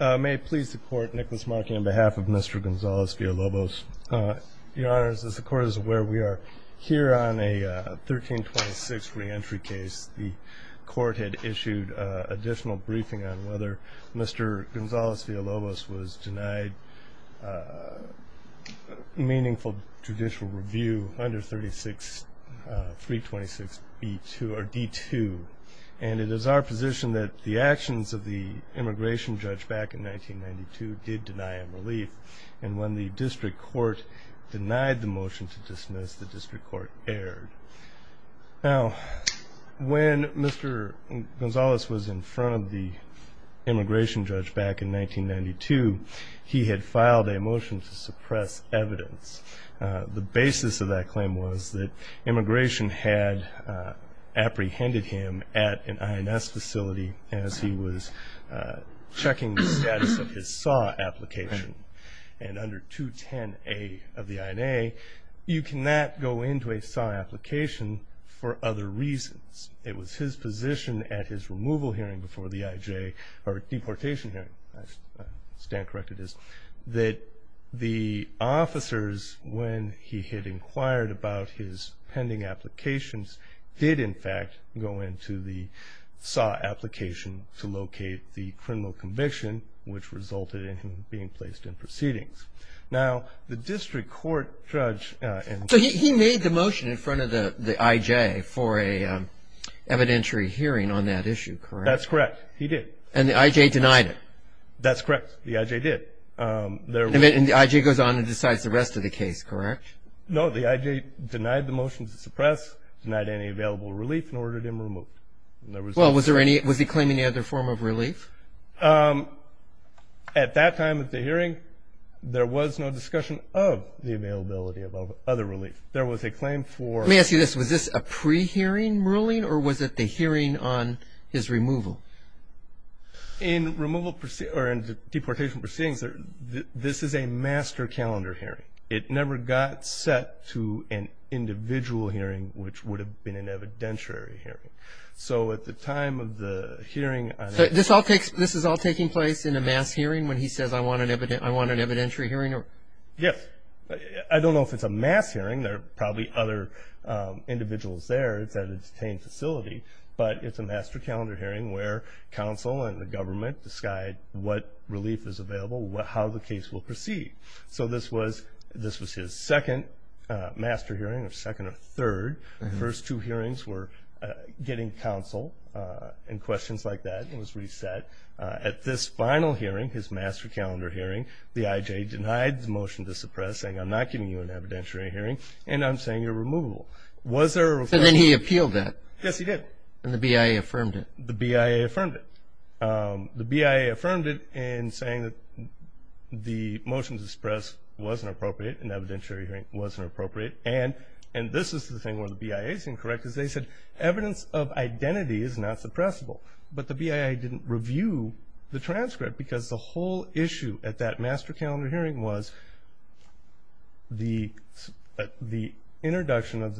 May it please the court, Nicholas Markey on behalf of Mr. Gonzalez-Villalobos. Your honors, as the court is aware, we are here on a 1326 re-entry case. The court had issued an additional briefing on whether Mr. Gonzalez-Villalobos was denied meaningful judicial review under 326b2 or d2. And it is our position that the actions of the immigration judge back in 1992 did deny him relief. And when the district court denied the motion to dismiss, the district court erred. Now, when Mr. Gonzalez was in front of the immigration judge back in 1992, he had filed a motion to suppress evidence. The basis of that claim was that immigration had apprehended him at an INS facility as he was checking the status of his SAW application. And under 210a of the INA, you cannot go into a SAW application for other reasons. It was his position at his removal hearing before the IJ, or deportation hearing, if I stand corrected, is that the officers, when he had inquired about his pending applications, did, in fact, go into the SAW application to locate the criminal conviction, which resulted in him being placed in proceedings. Now, the district court judge and the district court judge. So he made the motion in front of the IJ for an evidentiary hearing on that issue, correct? That's correct. He did. And the IJ denied it. That's correct. The IJ did. And the IJ goes on and decides the rest of the case, correct? No. The IJ denied the motion to suppress, denied any available relief, and ordered him removed. Well, was there any – was he claiming any other form of relief? At that time at the hearing, there was no discussion of the availability of other relief. There was a claim for – Let me ask you this. Was this a pre-hearing ruling, or was it the hearing on his removal? In removal – or in the deportation proceedings, this is a master calendar hearing. It never got set to an individual hearing, which would have been an evidentiary hearing. So at the time of the hearing – So this is all taking place in a mass hearing when he says, I want an evidentiary hearing? Yes. I don't know if it's a mass hearing. There are probably other individuals there. It's at a detained facility. But it's a master calendar hearing where counsel and the government decide what relief is available, how the case will proceed. So this was his second master hearing, or second or third. The first two hearings were getting counsel and questions like that. It was reset. At this final hearing, his master calendar hearing, the IJ denied the motion to suppress, saying, I'm not giving you an evidentiary hearing, and I'm saying you're removable. Was there a – And then he appealed that. Yes, he did. And the BIA affirmed it. The BIA affirmed it. The BIA affirmed it in saying that the motion to suppress wasn't appropriate, an evidentiary hearing wasn't appropriate. And this is the thing where the BIA is incorrect, because they said evidence of identity is not suppressible. But the BIA didn't review the transcript because the whole issue at that master calendar hearing was the introduction of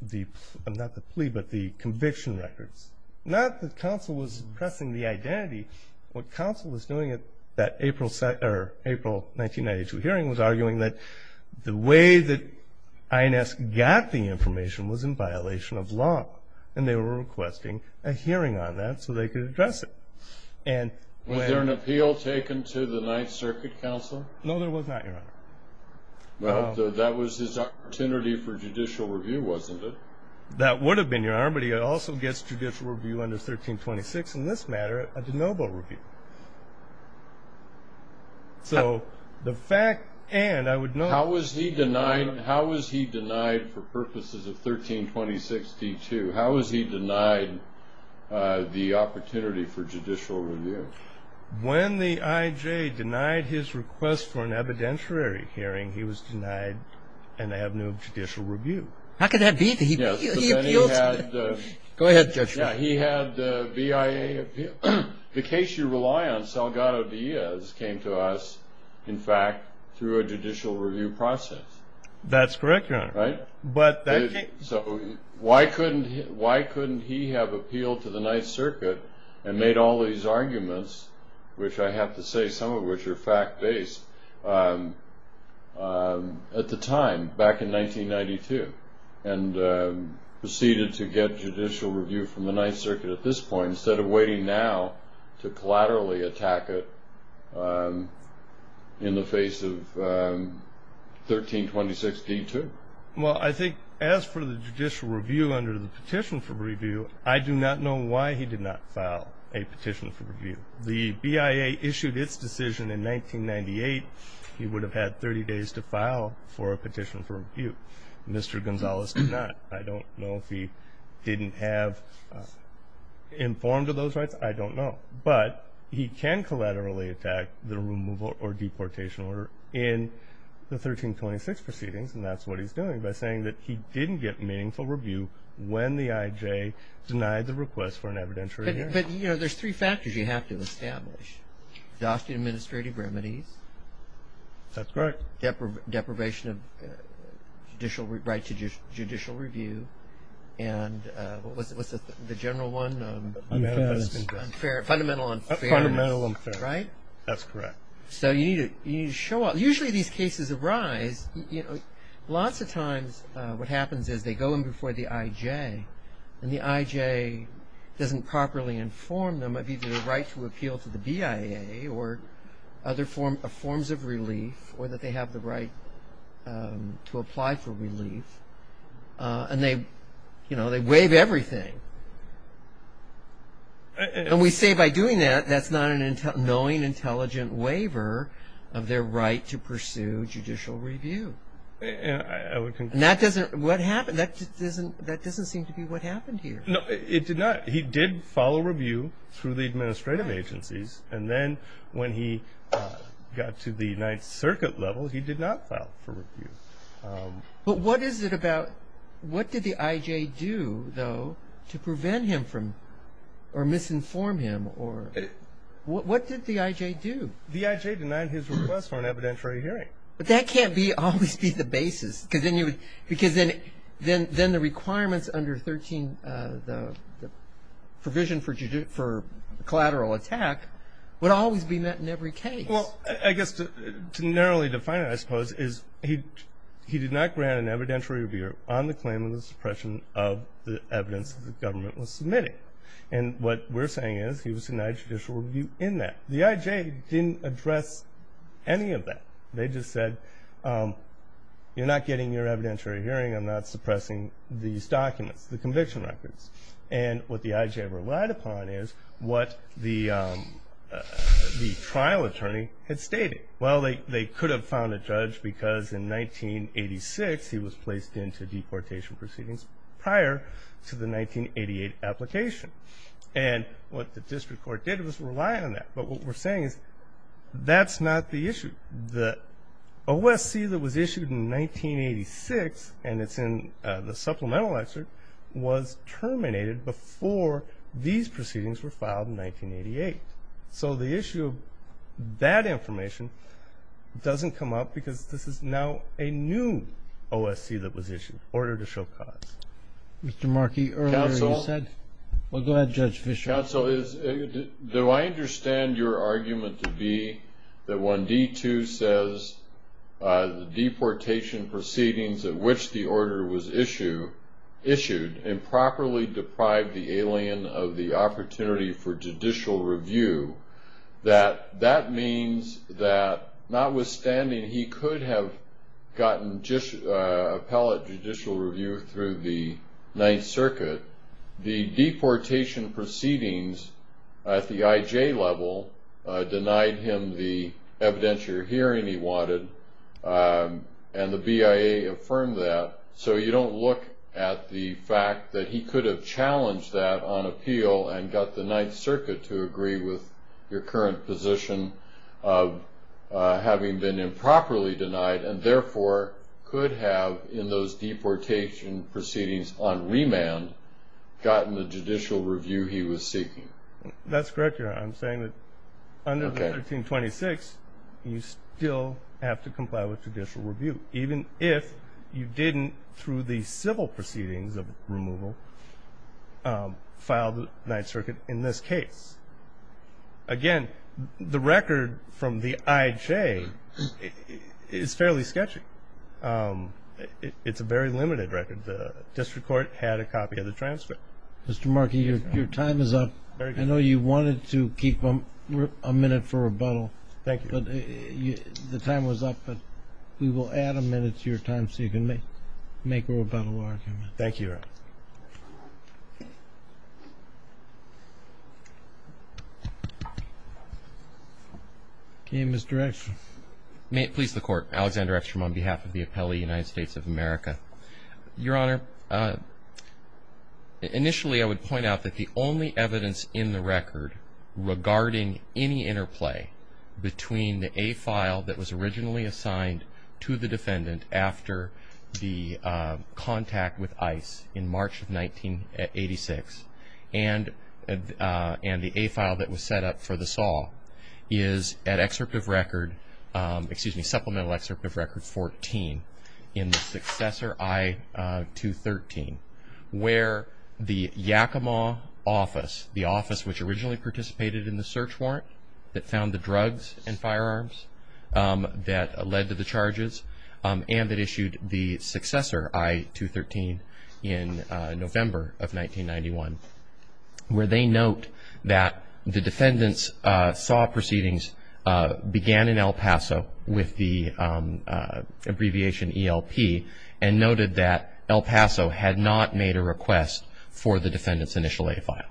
the – not the plea, but the conviction records. Not that counsel was suppressing the identity. What counsel was doing at that April 1992 hearing was arguing that the way that INS got the information was in violation of law, and they were requesting a hearing on that so they could address it. Was there an appeal taken to the Ninth Circuit Counsel? No, there was not, Your Honor. Well, that was his opportunity for judicial review, wasn't it? That would have been, Your Honor, but he also gets judicial review under 1326 in this matter, a de novo review. So the fact – and I would note – How was he denied for purposes of 1326d-2? How was he denied the opportunity for judicial review? When the IJ denied his request for an evidentiary hearing, he was denied an avenue of judicial review. How could that be? He appealed to the – Go ahead, Judge. He had the BIA appeal. The case you rely on, Salgado-Diaz, came to us, in fact, through a judicial review process. That's correct, Your Honor. Right? So why couldn't he have appealed to the Ninth Circuit and made all these arguments, which I have to say some of which are fact-based, at the time, back in 1992, and proceeded to get judicial review from the Ninth Circuit at this point instead of waiting now to collaterally attack it in the face of 1326d-2? Well, I think as for the judicial review under the petition for review, I do not know why he did not file a petition for review. The BIA issued its decision in 1998. He would have had 30 days to file for a petition for review. Mr. Gonzalez did not. I don't know if he didn't have informed of those rights. I don't know. But he can collaterally attack the removal or deportation order in the 1326 proceedings, and that's what he's doing by saying that he didn't get meaningful review when the IJ denied the request for an evidentiary hearing. But, you know, there's three factors you have to establish. Exhaustive administrative remedies. That's correct. Deprivation of right to judicial review. And what's the general one? Unfairness. Fundamental unfairness. Fundamental unfairness. Right? That's correct. So you need to show up. Usually these cases arise, you know, lots of times what happens is they go in before the IJ, and the IJ doesn't properly inform them of either the right to appeal to the BIA or other forms of relief or that they have the right to apply for relief. And they, you know, they waive everything. And we say by doing that, that's not a knowing intelligent waiver of their right to pursue judicial review. And that doesn't seem to be what happened here. No, it did not. He did follow review through the administrative agencies, and then when he got to the Ninth Circuit level, he did not file for review. But what is it about what did the IJ do, though, to prevent him from or misinform him? What did the IJ do? The IJ denied his request for an evidentiary hearing. But that can't always be the basis because then the requirements under 13, the provision for collateral attack would always be met in every case. Well, I guess to narrowly define it, I suppose, is he did not grant an evidentiary review on the claim of the suppression of the evidence that the government was submitting. And what we're saying is he was denied judicial review in that. The IJ didn't address any of that. They just said, you're not getting your evidentiary hearing. I'm not suppressing these documents, the conviction records. And what the IJ relied upon is what the trial attorney had stated. Well, they could have found a judge because in 1986, he was placed into deportation proceedings prior to the 1988 application. And what the district court did was rely on that. But what we're saying is that's not the issue. The OSC that was issued in 1986, and it's in the supplemental excerpt, was terminated before these proceedings were filed in 1988. So the issue of that information doesn't come up because this is now a new OSC that was issued in order to show cause. Mr. Markey, earlier you said. Well, go ahead, Judge Fischer. Mr. Counsel, do I understand your argument to be that when D2 says the deportation proceedings at which the order was issued improperly deprived the alien of the opportunity for judicial review, that that means that notwithstanding he could have gotten appellate judicial review through the Ninth Circuit, the deportation proceedings at the IJ level denied him the evidentiary hearing he wanted, and the BIA affirmed that. So you don't look at the fact that he could have challenged that on appeal and got the Ninth Circuit to agree with your current position of having been on remand gotten the judicial review he was seeking. That's correct, Your Honor. I'm saying that under 1326 you still have to comply with judicial review, even if you didn't through the civil proceedings of removal file the Ninth Circuit in this case. Again, the record from the IJ is fairly sketchy. It's a very limited record. The district court had a copy of the transcript. Mr. Markey, your time is up. I know you wanted to keep a minute for rebuttal. Thank you. The time was up, but we will add a minute to your time so you can make a rebuttal argument. Thank you, Your Honor. Okay, Mr. Ekstrom. Please, the Court. Alexander Ekstrom on behalf of the Appellee United States of America. Your Honor, initially I would point out that the only evidence in the record regarding any interplay between the A file that was originally assigned to the defendant after the contact with ICE in March of 1986 and the A file that was set up for the SAW is at supplemental excerpt of record 14 in the successor I-213 where the Yakima office, the office which originally participated in the search warrant that found the drugs and that issued the successor I-213 in November of 1991 where they note that the defendants saw proceedings began in El Paso with the abbreviation ELP and noted that El Paso had not made a request for the defendant's initial A file.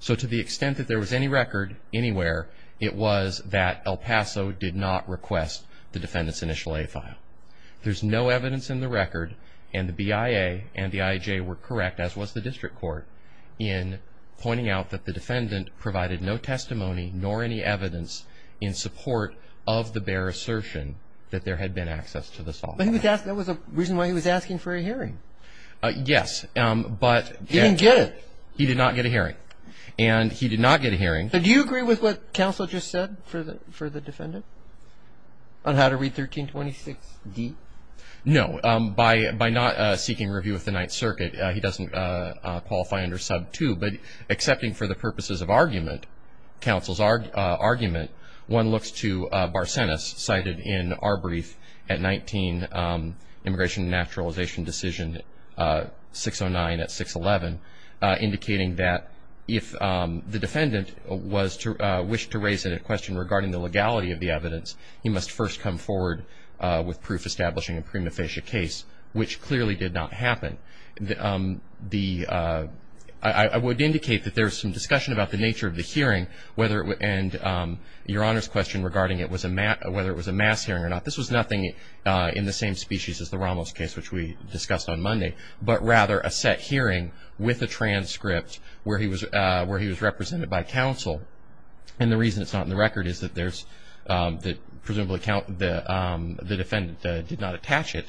So to the extent that there was any record anywhere, it was that El Paso did not request the defendant's initial A file. There's no evidence in the record and the BIA and the IJ were correct, as was the district court, in pointing out that the defendant provided no testimony nor any evidence in support of the bare assertion that there had been access to the SAW. But he was asking, that was the reason why he was asking for a hearing. Yes, but. He didn't get it. He did not get a hearing. And he did not get a hearing. But do you agree with what counsel just said for the defendant on how to read 1326D? No. By not seeking review of the Ninth Circuit, he doesn't qualify under sub 2. But accepting for the purposes of argument, counsel's argument, one looks to Barsenis cited in our brief at 19, Immigration and Naturalization Decision 609 at 611, indicating that if the defendant wished to raise a question regarding the legality of the evidence, he must first come forward with proof establishing a prima facie case, which clearly did not happen. I would indicate that there's some discussion about the nature of the hearing and Your Honor's question regarding whether it was a mass hearing or not. This was nothing in the same species as the Ramos case, which we discussed on Monday, but rather a set hearing with a transcript where he was represented by counsel. And the reason it's not in the record is that there's presumably the defendant did not attach it,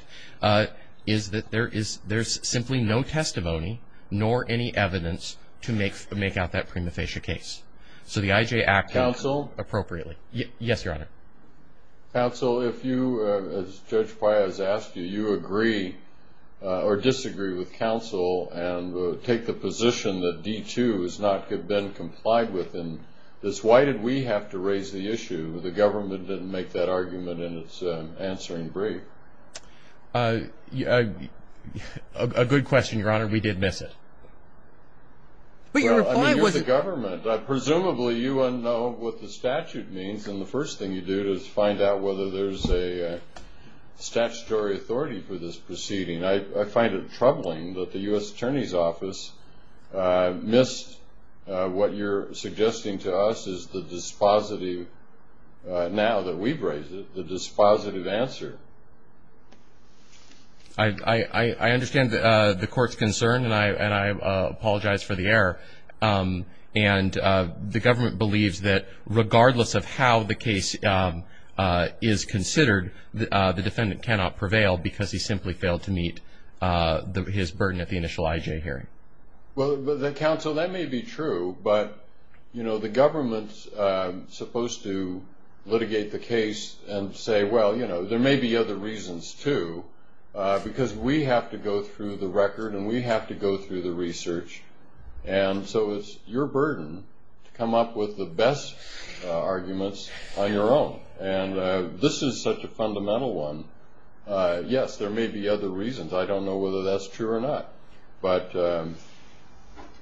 is that there's simply no testimony nor any evidence to make out that prima facie case. So the IJ acted appropriately. Counsel? Yes, Your Honor. Counsel, if you, as Judge Paya has asked you, you agree or disagree with counsel and take the position that D-2 has not been complied with, then why did we have to raise the issue? The government didn't make that argument in its answering brief. A good question, Your Honor. We did miss it. But your reply was... Well, I mean, you're the government. Presumably you wouldn't know what the statute means, and the first thing you do is find out whether there's a statutory authority for this proceeding. I find it troubling that the U.S. Attorney's Office missed what you're suggesting to us is the dispositive, now that we've raised it, the dispositive answer. I understand the Court's concern, and I apologize for the error. And the government believes that regardless of how the case is considered, the defendant cannot prevail because he simply failed to meet his burden at the initial IJ hearing. Well, counsel, that may be true, but, you know, the government's supposed to litigate the case and say, well, you know, there may be other reasons, too, because we have to go through the record and we have to go through the research, and so it's your burden to come up with the best arguments on your own. And this is such a fundamental one. Yes, there may be other reasons. I don't know whether that's true or not. But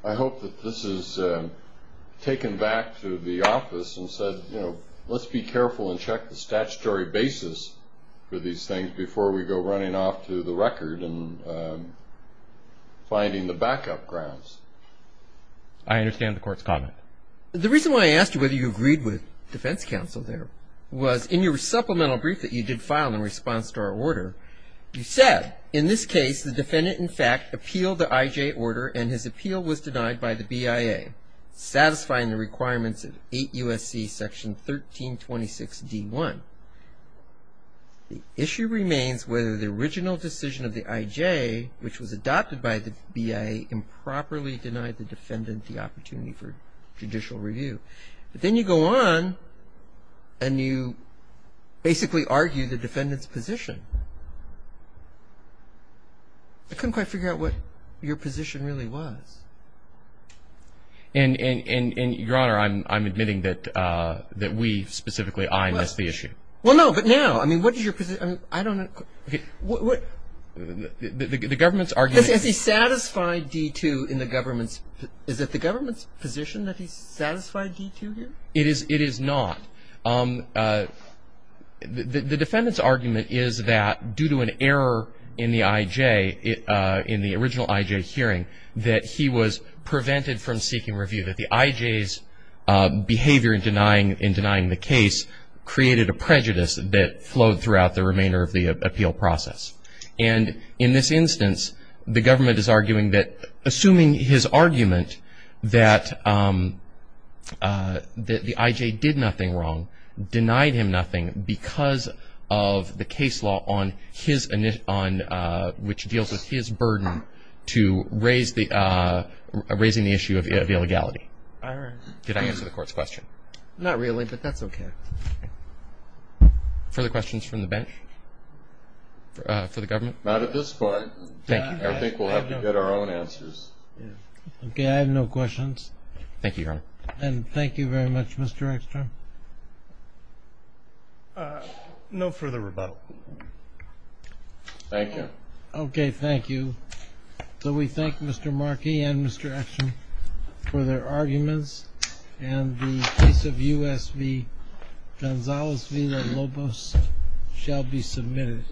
I hope that this is taken back to the office and said, you know, let's be careful and check the statutory basis for these things before we go running off to the record and finding the backup grounds. I understand the Court's comment. The reason why I asked you whether you agreed with defense counsel there was in your supplemental brief that you did file in response to our order, you said, in this case, the defendant, in fact, appealed the IJ order and his appeal was denied by the BIA, satisfying the requirements of 8 U.S.C. section 1326 D1. The issue remains whether the original decision of the IJ, which was adopted by the BIA, improperly denied the defendant the opportunity for judicial review. But then you go on and you basically argue the defendant's position. I couldn't quite figure out what your position really was. And, Your Honor, I'm admitting that we specifically, I, missed the issue. Well, no, but now. I mean, what is your position? I don't know. The government's argument. Has he satisfied D2 in the government's? Is it the government's position that he's satisfied D2 here? It is not. The defendant's argument is that due to an error in the IJ, in the original IJ hearing, that he was prevented from seeking review, that the IJ's behavior in denying the case created a prejudice that flowed throughout the remainder of the appeal process. And in this instance, the government is arguing that, assuming his argument that the IJ did nothing wrong, denied him nothing because of the case law on his, which deals with his burden to raise the, raising the issue of illegality. Did I answer the Court's question? Not really, but that's okay. Further questions from the bench? For the government? Not at this point. Thank you. I think we'll have to get our own answers. Okay, I have no questions. Thank you, Your Honor. And thank you very much, Mr. Eckstrom. No further rebuttal. Thank you. Okay, thank you. So we thank Mr. Markey and Mr. Eckstrom for their arguments, and the case of U.S. v. Gonzales v. Lobos shall be submitted.